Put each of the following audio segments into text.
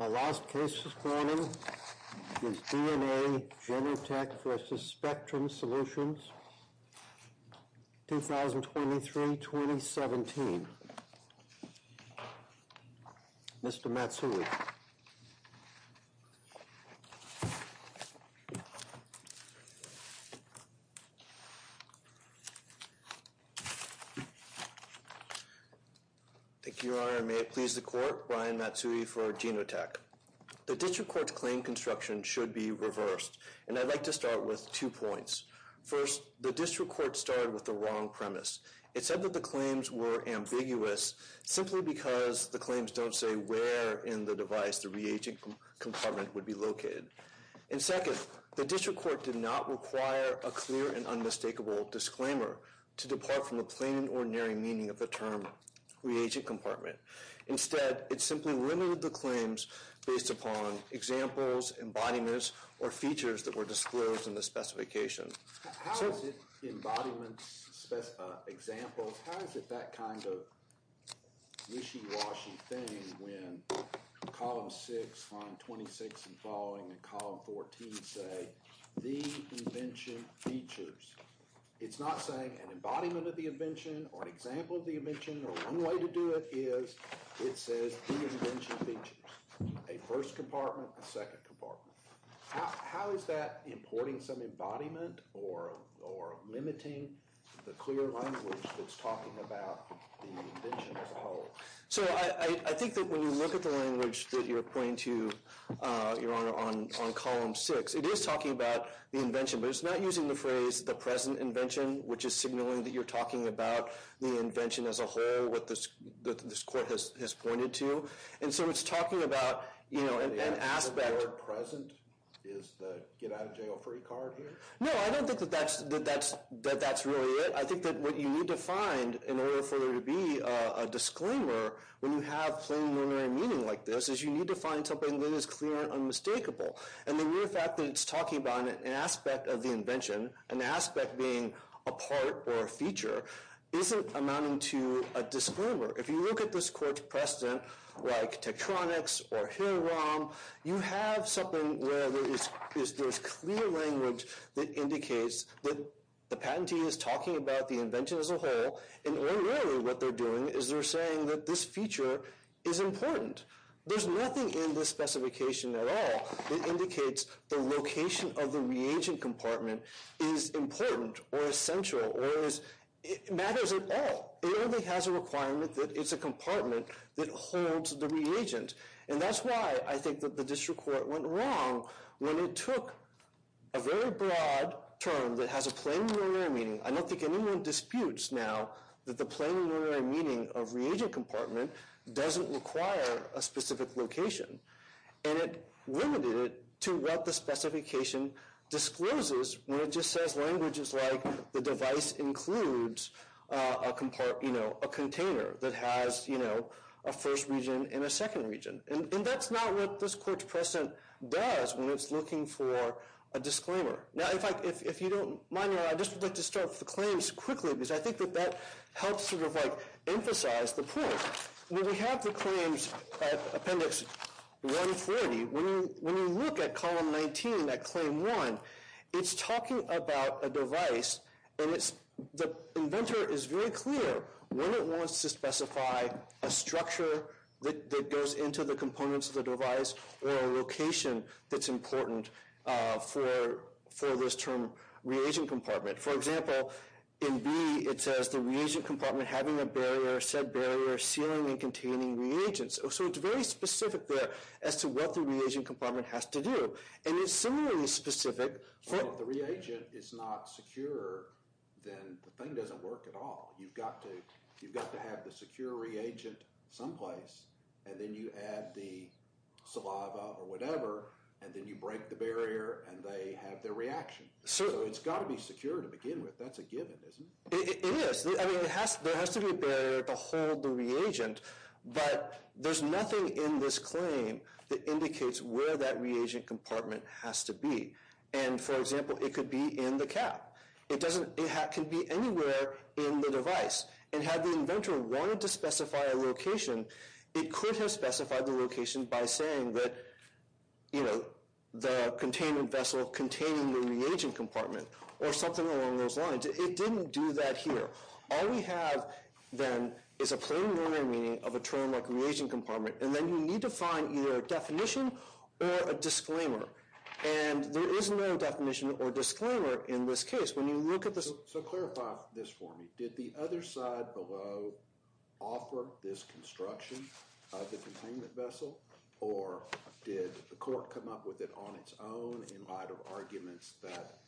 Our last case this morning is DNA Genotek v. Spectrum Solutions, 2023-2017. Mr. Matsui. Thank you, Your Honor, and may it please the Court, Brian Matsui for Genotek. The District Court's claim construction should be reversed, and I'd like to start with two points. First, the District Court started with the wrong premise. It said that the claims were ambiguous simply because the claims don't say where in the device the reagent compartment would be located. And second, the District Court did not require a clear and unmistakable disclaimer to depart from the plain and ordinary meaning of the term reagent compartment. Instead, it simply limited the claims based upon examples, embodiments, or features that were disclosed in the specification. How is it embodiments, examples, how is it that kind of wishy-washy thing when column 6, line 26 and following, and column 14 say the invention features? It's not saying an embodiment of the invention or an example of the invention, or one way to do it is it says the invention features. A first compartment, a second compartment. How is that importing some embodiment or limiting the clear language that's talking about the invention as a whole? So I think that when you look at the language that you're pointing to, Your Honor, on column 6, it is talking about the invention, but it's not using the phrase the present invention, which is signaling that you're talking about the invention as a whole, what this Court has pointed to. And so it's talking about an aspect. The word present is the get out of jail free card here? No, I don't think that that's really it. I think that what you need to find in order for there to be a disclaimer when you have plain and ordinary meaning like this is you need to find something that is clear and unmistakable. And the mere fact that it's talking about an aspect of the invention, an aspect being a part or a feature, isn't amounting to a disclaimer. If you look at this Court's precedent, like Tektronix or Hirram, you have something where there is clear language that indicates that the patentee is talking about the invention as a whole, and ordinarily what they're doing is they're saying that this feature is important. There's nothing in this specification at all that indicates the location of the reagent compartment is important or essential or matters at all. It only has a requirement that it's a compartment that holds the reagent. And that's why I think that the district court went wrong when it took a very broad term that has a plain and ordinary meaning. I don't think anyone disputes now that the plain and ordinary meaning of reagent compartment doesn't require a specific location. And it limited it to what the specification discloses when it just says language is like the device includes a container that has a first region and a second region. And that's not what this Court's precedent does when it's looking for a disclaimer. Now if you don't mind, I'd just like to start with the claims quickly because I think that that helps sort of like emphasize the point. When we have the claims appendix 140, when you look at column 19 at claim one, it's talking about a device. And the inventor is very clear when it wants to specify a structure that goes into the components of the device or a location that's important for this term reagent compartment. For example, in B, it says the reagent compartment having a barrier, said barrier sealing and containing reagents. So it's very specific there as to what the reagent compartment has to do. And it's similarly specific. So if the reagent is not secure, then the thing doesn't work at all. You've got to have the secure reagent someplace, and then you add the saliva or whatever, and then you break the barrier and they have their reaction. So it's got to be secure to begin with. That's a given, isn't it? It is. I mean, there has to be a barrier to hold the reagent, but there's nothing in this claim that indicates where that reagent compartment has to be. And for example, it could be in the cap. It can be anywhere in the device. And had the inventor wanted to specify a location, it could have specified the location by saying that, you know, the containment vessel containing the reagent compartment or something along those lines. It didn't do that here. All we have, then, is a plain, normal meaning of a term like reagent compartment, and then you need to find either a definition or a disclaimer. And there is no definition or disclaimer in this case. So clarify this for me. Did the other side below offer this construction of the containment vessel, or did the court come up with it on its own in light of arguments that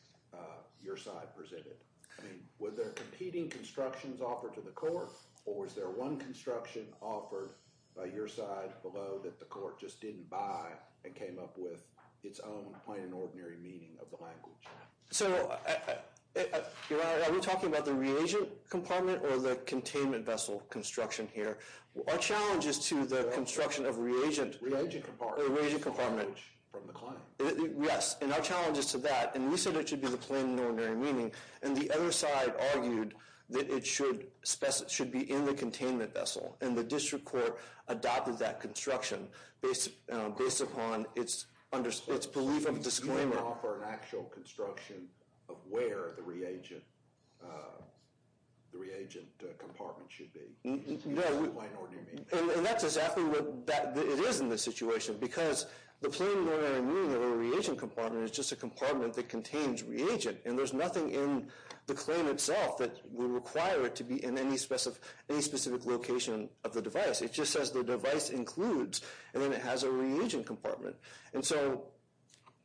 your side presented? I mean, were there competing constructions offered to the court, or was there one construction offered by your side below that the court just didn't buy and came up with its own plain and ordinary meaning of the language? So, Your Honor, are we talking about the reagent compartment or the containment vessel construction here? Our challenge is to the construction of reagent. Reagent compartment. Or reagent compartment. From the claim. Yes, and our challenge is to that. And we said it should be the plain and ordinary meaning. And the other side argued that it should be in the containment vessel. And the district court adopted that construction based upon its belief of disclaimer. Did it offer an actual construction of where the reagent compartment should be? No. The plain and ordinary meaning. And that's exactly what it is in this situation. Because the plain and ordinary meaning of a reagent compartment is just a compartment that contains reagent. And there's nothing in the claim itself that would require it to be in any specific location of the device. It just says the device includes, and then it has a reagent compartment. And so,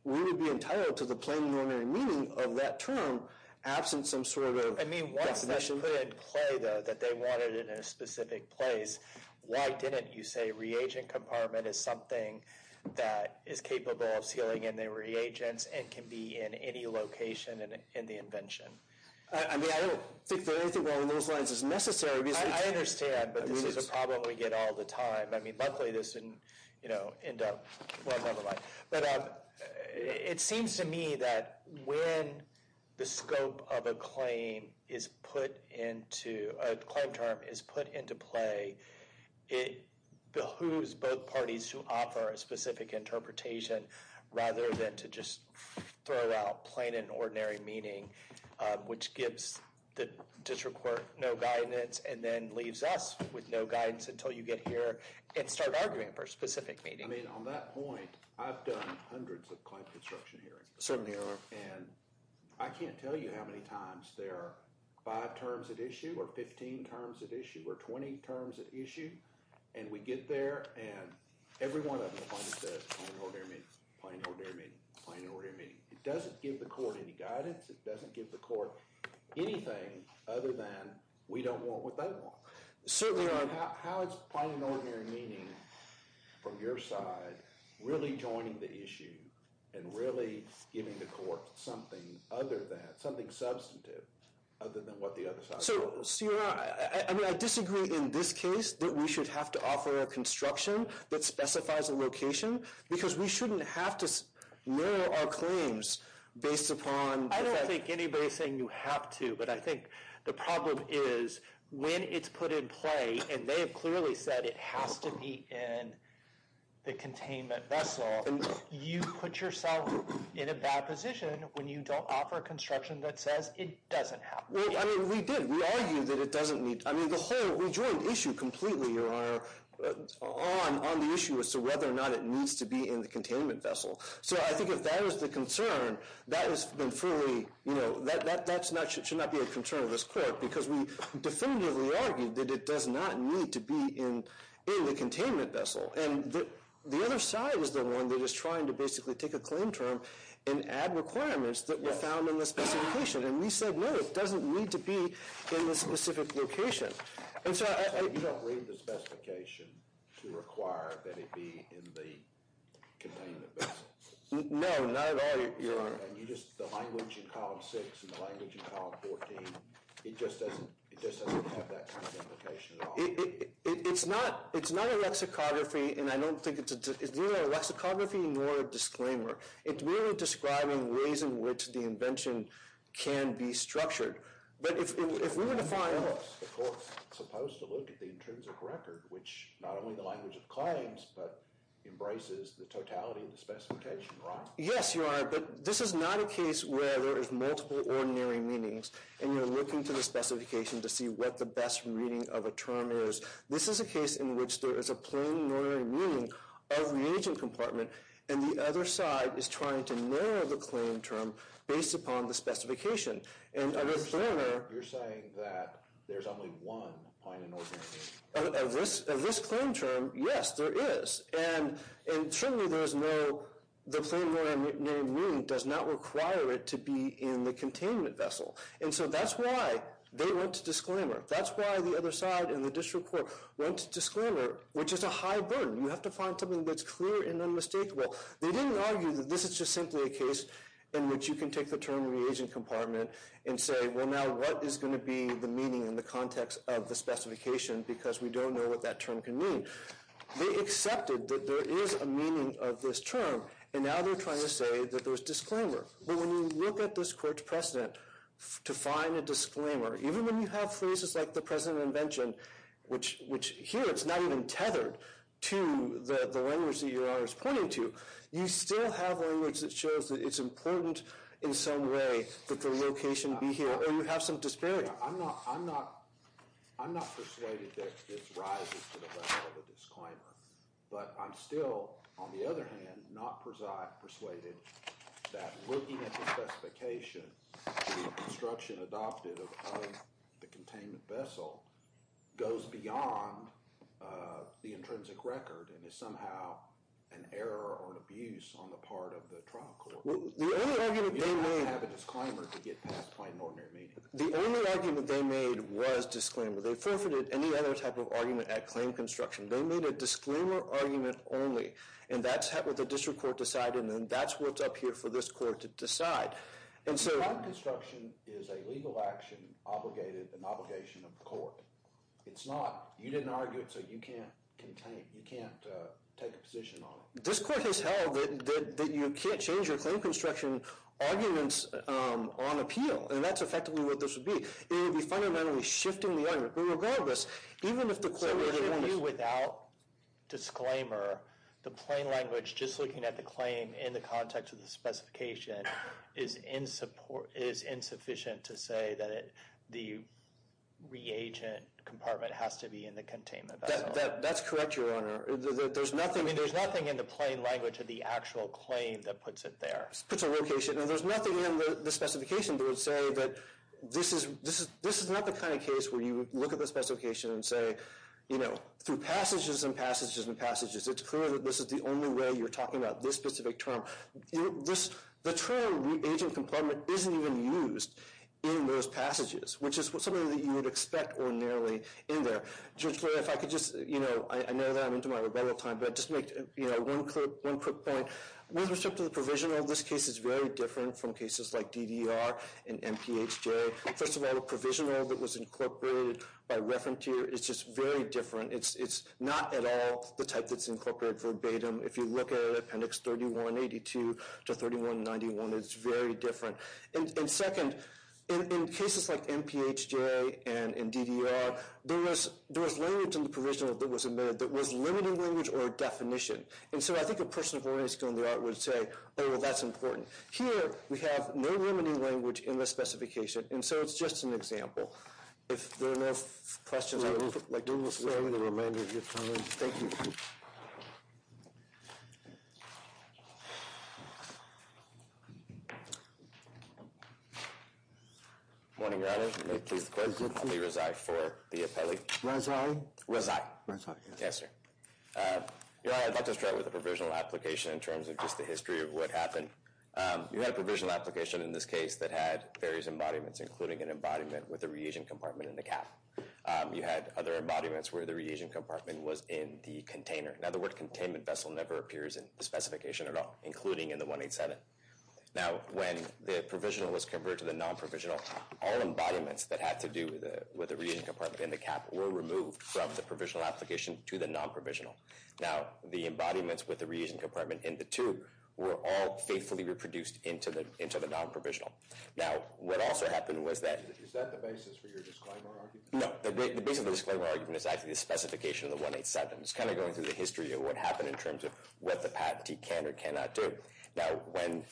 we would be entitled to the plain and ordinary meaning of that term, absent some sort of definition. I mean, once they put it in play, though, that they wanted it in a specific place, why didn't you say reagent compartment is something that is capable of sealing in the reagents and can be in any location in the invention? I mean, I don't think anything along those lines is necessary. I understand, but this is a problem we get all the time. I mean, luckily this didn't, you know, end up, well, never mind. But it seems to me that when the scope of a claim is put into, a claim term is put into play, it behooves both parties to offer a specific interpretation rather than to just throw out plain and ordinary meaning, which gives the district court no guidance and then leaves us with no guidance until you get here and start arguing for a specific meaning. I mean, on that point, I've done hundreds of claim construction hearings. Certainly you have. And I can't tell you how many times there are five terms at issue or 15 terms at issue or 20 terms at issue. And we get there and every one of them says plain and ordinary meaning, plain and ordinary meaning, plain and ordinary meaning. It doesn't give the court any guidance. It doesn't give the court anything other than we don't want what they want. Certainly, Your Honor. How is plain and ordinary meaning from your side really joining the issue and really giving the court something other than, something substantive other than what the other side does? So, Your Honor, I mean, I disagree in this case that we should have to offer a construction that specifies a location because we shouldn't have to lower our claims based upon- I don't think anybody's saying you have to. But I think the problem is when it's put in play, and they have clearly said it has to be in the containment vessel, you put yourself in a bad position when you don't offer construction that says it doesn't have to be. Well, I mean, we did. We argued that it doesn't need- I mean, the whole rejoined issue completely, Your Honor, on the issue as to whether or not it needs to be in the containment vessel. So I think if that is the concern, that has been fully- that should not be a concern of this court because we definitively argued that it does not need to be in the containment vessel. And the other side is the one that is trying to basically take a claim term and add requirements that were found in the specification. And we said, no, it doesn't need to be in the specific location. And so I- So you don't read the specification to require that it be in the containment vessel? No, not at all, Your Honor. And you just- the language in Column 6 and the language in Column 14, it just doesn't have that kind of implication at all? It's not a lexicography, and I don't think it's- it's neither a lexicography nor a disclaimer. It's really describing ways in which the invention can be structured. But if we were to find- The court's supposed to look at the intrinsic record, which not only the language of claims, but embraces the totality of the specification, right? Yes, Your Honor, but this is not a case where there is multiple ordinary meanings, and you're looking to the specification to see what the best reading of a term is. This is a case in which there is a plain ordinary meaning of reagent compartment, and the other side is trying to narrow the claim term based upon the specification. And of a claimer- You're saying that there's only one point in ordinary meaning? Of this claim term, yes, there is. And certainly there is no- the plain ordinary meaning does not require it to be in the containment vessel. And so that's why they went to disclaimer. That's why the other side and the district court went to disclaimer, which is a high burden. You have to find something that's clear and unmistakable. They didn't argue that this is just simply a case in which you can take the term reagent compartment and say, well, now what is going to be the meaning in the context of the specification, because we don't know what that term can mean. They accepted that there is a meaning of this term, and now they're trying to say that there's disclaimer. But when you look at this court's precedent to find a disclaimer, even when you have phrases like the precedent of invention, which here it's not even tethered to the language that you're always pointing to, you still have language that shows that it's important in some way that the location be here, or you have some disparity. I'm not persuaded that this rises to the level of a disclaimer, but I'm still, on the other hand, not persuaded that looking at the specification of construction adopted of the containment vessel goes beyond the intrinsic record and is somehow an error or an abuse on the part of the trial court. You don't have to have a disclaimer to get past plain and ordinary meaning. The only argument they made was disclaimer. They forfeited any other type of argument at claim construction. They made a disclaimer argument only, and that's what the district court decided, and that's what's up here for this court to decide. And so— Claim construction is a legal action, an obligation of the court. It's not—you didn't argue it, so you can't take a position on it. This court has held that you can't change your claim construction arguments on appeal, and that's effectively what this would be. It would be fundamentally shifting the argument. But regardless, even if the court— Without disclaimer, the plain language, just looking at the claim in the context of the specification, is insufficient to say that the reagent compartment has to be in the containment vessel. That's correct, Your Honor. There's nothing— I mean, there's nothing in the plain language of the actual claim that puts it there. Puts a location. And there's nothing in the specification that would say that this is not the kind of case where you look at the specification and say, you know, through passages and passages and passages, it's clear that this is the only way you're talking about this specific term. The term reagent compartment isn't even used in those passages, which is something that you would expect ordinarily in there. Judge Blair, if I could just—you know, I know that I'm into my rebuttal time, but I'd just make one quick point. With respect to the provisional, this case is very different from cases like DDR and MPHJ. First of all, the provisional that was incorporated by reference here is just very different. It's not at all the type that's incorporated verbatim. If you look at Appendix 3182 to 3191, it's very different. And second, in cases like MPHJ and DDR, there was language in the provisional that was limited language or a definition. And so I think a person of ordinary skill in the art would say, oh, well, that's important. Here, we have no limiting language in the specification. And so it's just an example. If there are no questions, I would like to— We will spare you the remainder of your time. Thank you. Morning, Your Honor. May it please the Court. I'll be resigned for the appellee. Resign? Resign. Yes, sir. Your Honor, I'd like to start with the provisional application in terms of just the history of what happened. You had a provisional application in this case that had various embodiments, including an embodiment with a reagent compartment in the cap. You had other embodiments where the reagent compartment was in the container. Now, the word containment vessel never appears in the specification at all, including in the 187. Now, when the provisional was converted to the non-provisional, all embodiments that had to do with the reagent compartment in the cap were removed from the provisional application to the non-provisional. Now, the embodiments with the reagent compartment in the tube were all faithfully reproduced into the non-provisional. Now, what also happened was that— Is that the basis for your disclaimer argument? No. The basis of the disclaimer argument is actually the specification of the 187. It's kind of going through the history of what happened in terms of what the patentee can or cannot do. Now, when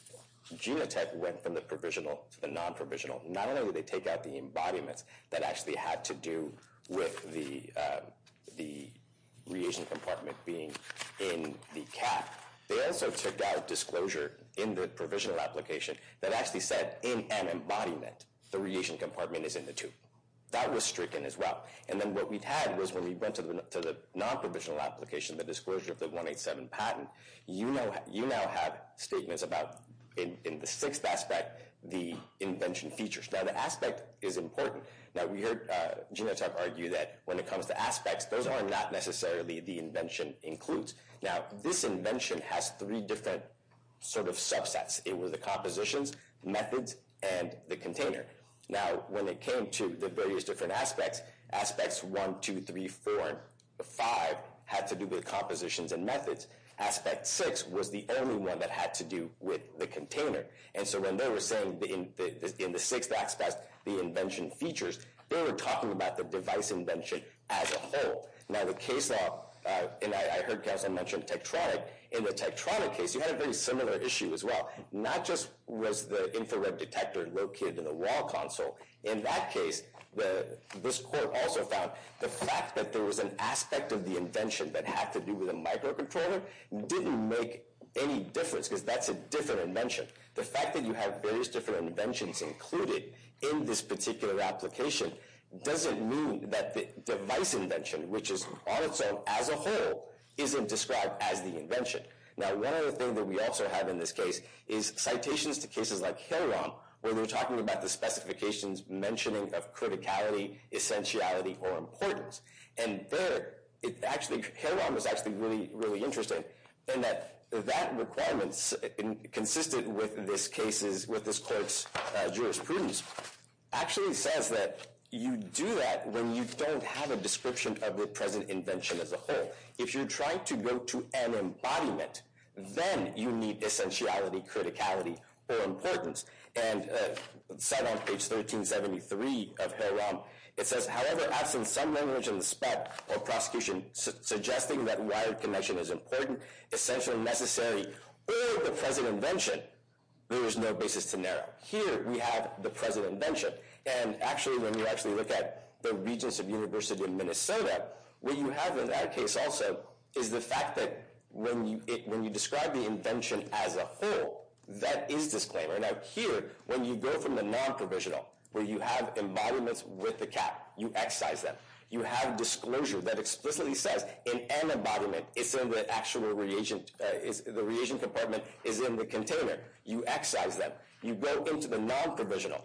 Genotek went from the provisional to the non-provisional, not only did they take out the embodiments that actually had to do with the reagent compartment being in the cap, they also took out disclosure in the provisional application that actually said, in an embodiment, the reagent compartment is in the tube. That was stricken as well. And then what we've had was when we went to the non-provisional application, the disclosure of the 187 patent, you now have statements about, in the sixth aspect, the invention features. Now, the aspect is important. Now, we heard Genotek argue that when it comes to aspects, those are not necessarily the invention includes. Now, this invention has three different sort of subsets. It was the compositions, methods, and the container. Now, when it came to the various different aspects, aspects 1, 2, 3, 4, 5 had to do with compositions and methods. Aspect 6 was the only one that had to do with the container. And so when they were saying, in the sixth aspect, the invention features, they were talking about the device invention as a whole. Now, the case law, and I heard Counselor mention Tektronik. In the Tektronik case, you had a very similar issue as well. Not just was the infrared detector located in the wall console. In that case, this court also found the fact that there was an aspect of the invention that had to do with a microcontroller didn't make any difference because that's a different invention. The fact that you have various different inventions included in this particular application doesn't mean that the device invention, which is on its own as a whole, isn't described as the invention. Now, one other thing that we also have in this case is citations to cases like HILROM where they're talking about the specifications mentioning of criticality, essentiality, or importance. And there, HILROM is actually really, really interesting in that that requirement, consistent with this court's jurisprudence, actually says that you do that when you don't have a description of the present invention as a whole. If you're trying to go to an embodiment, then you need essentiality, criticality, or importance. And cited on page 1373 of HILROM, it says, however, absent some language in the spec of prosecution suggesting that wired connection is important, essential, necessary, or the present invention, there is no basis to narrow. Here, we have the present invention. And actually, when you actually look at the Regents of University of Minnesota, what you have in that case also is the fact that when you describe the invention as a whole, that is disclaimer. Now, here, when you go from the non-provisional, where you have embodiments with the cap, you excise them. You have disclosure that explicitly says in an embodiment, it's in the actual reagent. The reagent compartment is in the container. You excise them. You go into the non-provisional.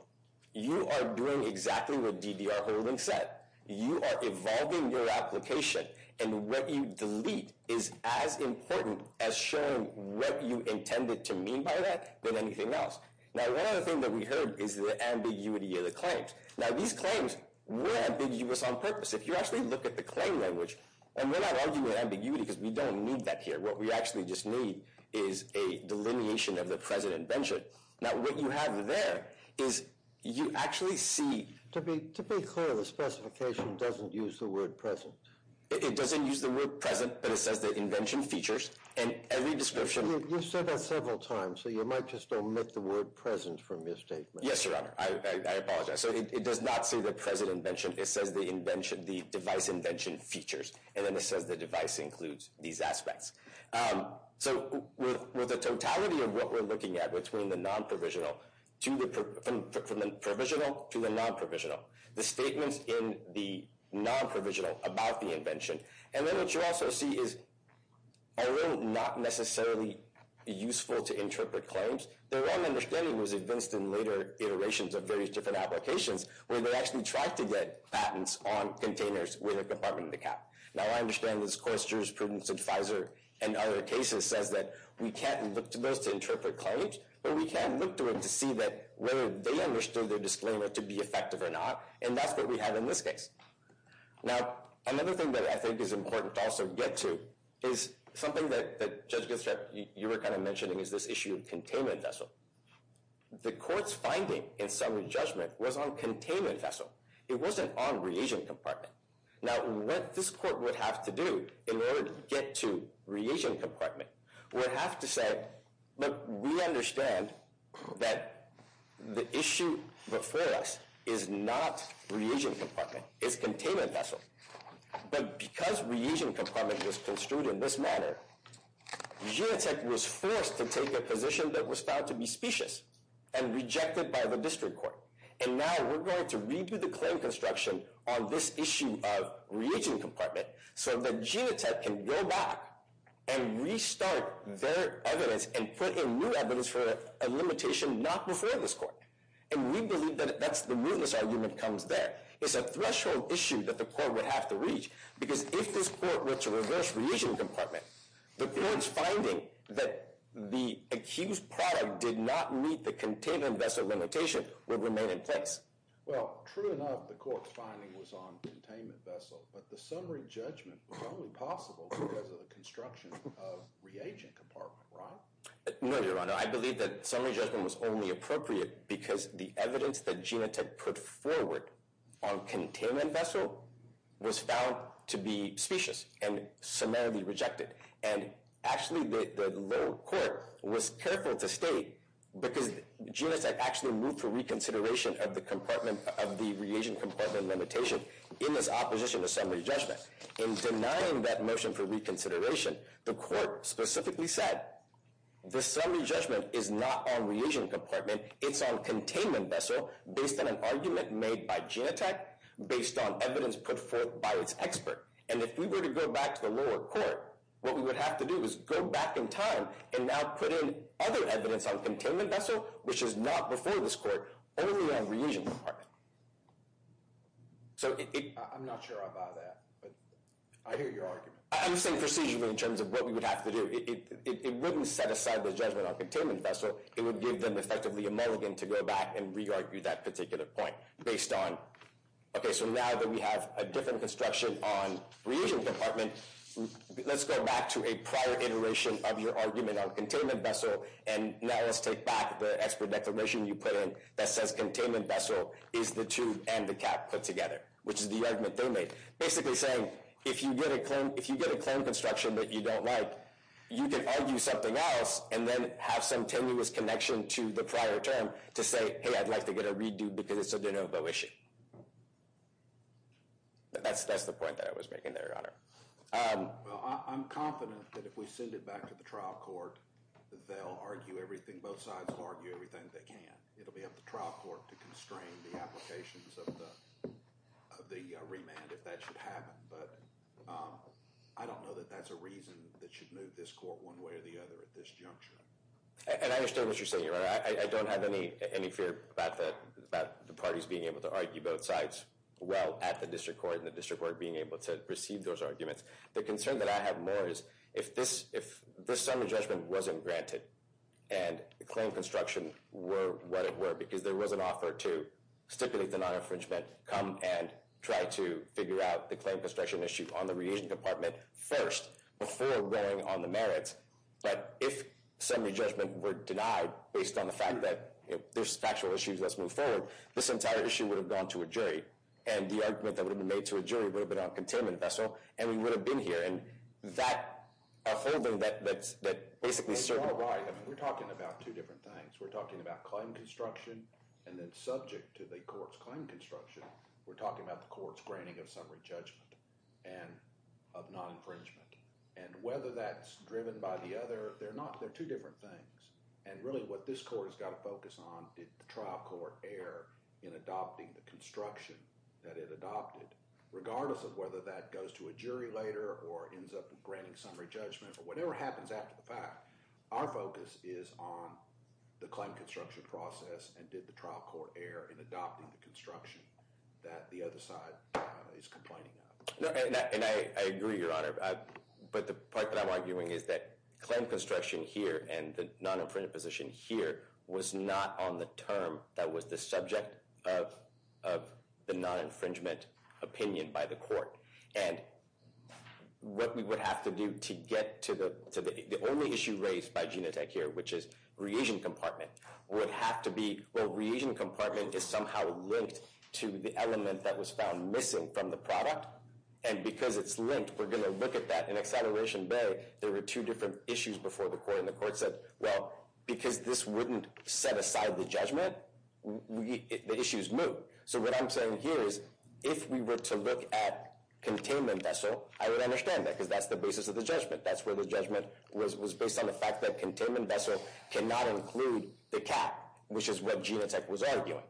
You are doing exactly what DDR Holdings said. You are evolving your application. And what you delete is as important as showing what you intended to mean by that than anything else. Now, one other thing that we heard is the ambiguity of the claims. Now, these claims were ambiguous on purpose. If you actually look at the claim language, and we're not arguing ambiguity because we don't need that here. What we actually just need is a delineation of the present invention. Now, what you have there is you actually see. To be clear, the specification doesn't use the word present. It doesn't use the word present, but it says the invention features and every description. You said that several times, so you might just omit the word present from your statement. Yes, Your Honor. I apologize. So it does not say the present invention. It says the device invention features, and then it says the device includes these aspects. So with the totality of what we're looking at between the provisional to the non-provisional, the statements in the non-provisional about the invention, and then what you also see is although not necessarily useful to interpret claims, their own understanding was advanced in later iterations of various different applications where they actually tried to get patents on containers with a compartment in the cap. Now, I understand this course jurisprudence advisor and other cases says that we can't look to those to interpret claims, but we can look to them to see whether they understood their disclaimer to be effective or not, and that's what we have in this case. Now, another thing that I think is important to also get to is something that, Judge Ginsburg, you were kind of mentioning is this issue of containment vessel. The court's finding in summary judgment was on containment vessel. It wasn't on reagent compartment. Now, what this court would have to do in order to get to reagent compartment would have to say, look, we understand that the issue before us is not reagent compartment, it's containment vessel, but because reagent compartment was construed in this manner, Genetec was forced to take a position that was found to be specious and rejected by the district court, and now we're going to redo the claim construction on this issue of reagent compartment so that Genetec can go back and restart their evidence and put in new evidence for a limitation not before this court, and we believe that that's the mootness argument that comes there. It's a threshold issue that the court would have to reach because if this court were to reverse reagent compartment, the court's finding that the accused product did not meet the containment vessel limitation would remain in place. Well, true enough, the court's finding was on containment vessel, but the summary judgment was only possible because of the construction of reagent compartment, right? No, Your Honor, I believe that summary judgment was only appropriate because the evidence that Genetec put forward on containment vessel was found to be specious and summarily rejected, and actually the lower court was careful to state because Genetec actually moved for reconsideration of the reagent compartment limitation in this opposition to summary judgment. In denying that motion for reconsideration, the court specifically said the summary judgment is not on reagent compartment. It's on containment vessel based on an argument made by Genetec based on evidence put forth by its expert, and if we were to go back to the lower court, what we would have to do is go back in time and now put in other evidence on containment vessel, which is not before this court, only on reagent compartment. I'm not sure about that, but I hear your argument. I'm saying procedurally in terms of what we would have to do. It wouldn't set aside the judgment on containment vessel. It would give them effectively a mulligan to go back and re-argue that particular point based on, okay, so now that we have a different construction on reagent compartment, let's go back to a prior iteration of your argument on containment vessel, and now let's take back the expert declaration you put in that says containment vessel is the tube and the cap put together, which is the argument they made, basically saying if you get a clone construction that you don't like, you can argue something else and then have some tenuous connection to the prior term to say, hey, I'd like to get a redo because it's a de novo issue. That's the point that I was making there, Your Honor. Well, I'm confident that if we send it back to the trial court, they'll argue everything. Both sides will argue everything they can. It will be up to trial court to constrain the applications of the remand if that should happen, but I don't know that that's a reason that should move this court one way or the other at this juncture. And I understand what you're saying, Your Honor. I don't have any fear about the parties being able to argue both sides well at the district court and the district court being able to proceed those arguments. The concern that I have more is if this summary judgment wasn't granted and the clone construction were what it were because there was an offer to stipulate the non-infringement, come and try to figure out the clone construction issue on the reagent compartment first before weighing on the merits, but if summary judgment were denied based on the fact that there's factual issues that's moved forward, this entire issue would have gone to a jury, and the argument that would have been made to a jury would have been on a containment vessel, and we would have been here, and that holding that basically served— Well, you're all right. We're talking about two different things. We're talking about clone construction, and then subject to the court's clone construction, we're talking about the court's granting of summary judgment and of non-infringement, and whether that's driven by the other—they're two different things, and really what this court has got to focus on is did the trial court err in adopting the construction that it adopted, regardless of whether that goes to a jury later or ends up granting summary judgment, or whatever happens after the fact, our focus is on the clone construction process and did the trial court err in adopting the construction that the other side is complaining of. No, and I agree, Your Honor, but the part that I'm arguing is that clone construction here and the non-infringement position here was not on the term that was the subject of the non-infringement opinion by the court, and what we would have to do to get to the—the only issue raised by Genotech here, which is reagent compartment, would have to be—well, reagent compartment is somehow linked to the element that was found missing from the product, and because it's linked, we're going to look at that in acceleration bay. There were two different issues before the court, and the court said, well, because this wouldn't set aside the judgment, the issues move, so what I'm saying here is if we were to look at containment vessel, I would understand that, because that's the basis of the judgment. That's where the judgment was based on the fact that containment vessel cannot include the cap, which is what Genotech was arguing,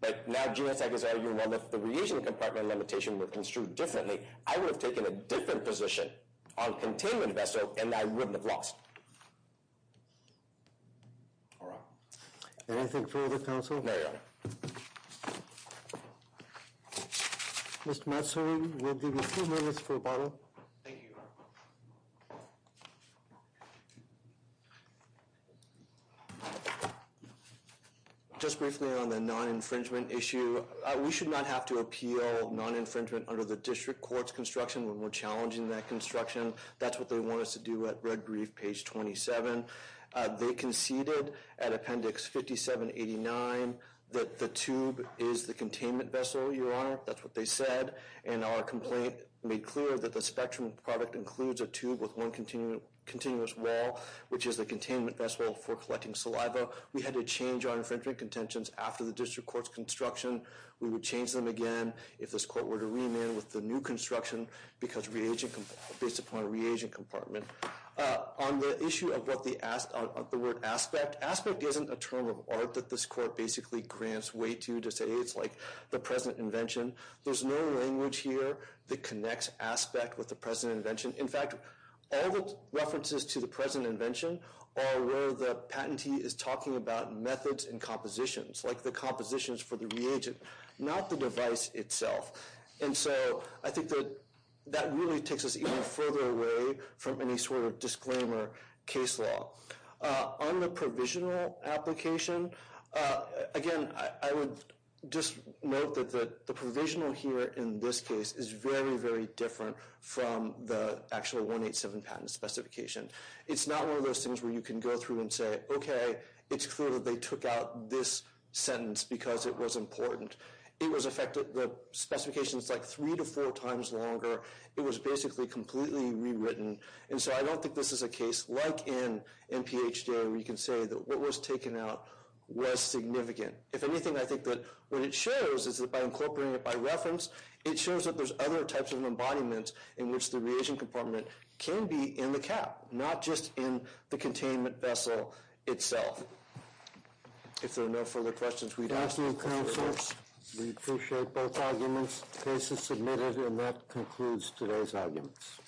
but now Genotech is arguing, well, if the reagent compartment limitation were construed differently, I would have taken a different position on containment vessel, and I wouldn't have lost. All right. Anything further, counsel? No, Your Honor. Mr. Matsui, we'll give you two minutes for a bottle. Thank you, Your Honor. Just briefly on the non-infringement issue, we should not have to appeal non-infringement under the district court's construction when we're challenging that construction. That's what they want us to do at red brief, page 27. They conceded at appendix 5789 that the tube is the containment vessel, Your Honor. That's what they said, and our complaint made clear that the Spectrum product includes a tube with one continuous wall, which is the containment vessel for collecting saliva. We had to change our infringement contentions after the district court's construction. We would change them again if this court were to remand with the new construction, because reagent, based upon a reagent compartment. On the issue of what the, of the word aspect, aspect isn't a term of art that this court basically grants way to, to say it's like the present invention. There's no language here that connects aspect with the present invention. In fact, all the references to the present invention are where the patentee is talking about methods and compositions, like the compositions for the reagent, not the device itself. And so I think that that really takes us even further away from any sort of disclaimer case law. On the provisional application, again, I would just note that the provisional here in this case is very, very different from the actual 187 patent specification. It's not one of those things where you can go through and say, okay, it's clear that they took out this sentence because it was important. It was effective, the specification's like three to four times longer. It was basically completely rewritten. And so I don't think this is a case like in NPHJ where you can say that what was taken out was significant. If anything, I think that what it shows is that by incorporating it by reference, it shows that there's other types of embodiment in which the reagent compartment can be in the cap, not just in the containment vessel itself. If there are no further questions, we'd ask for your comments. We appreciate both arguments. Case is submitted, and that concludes today's arguments.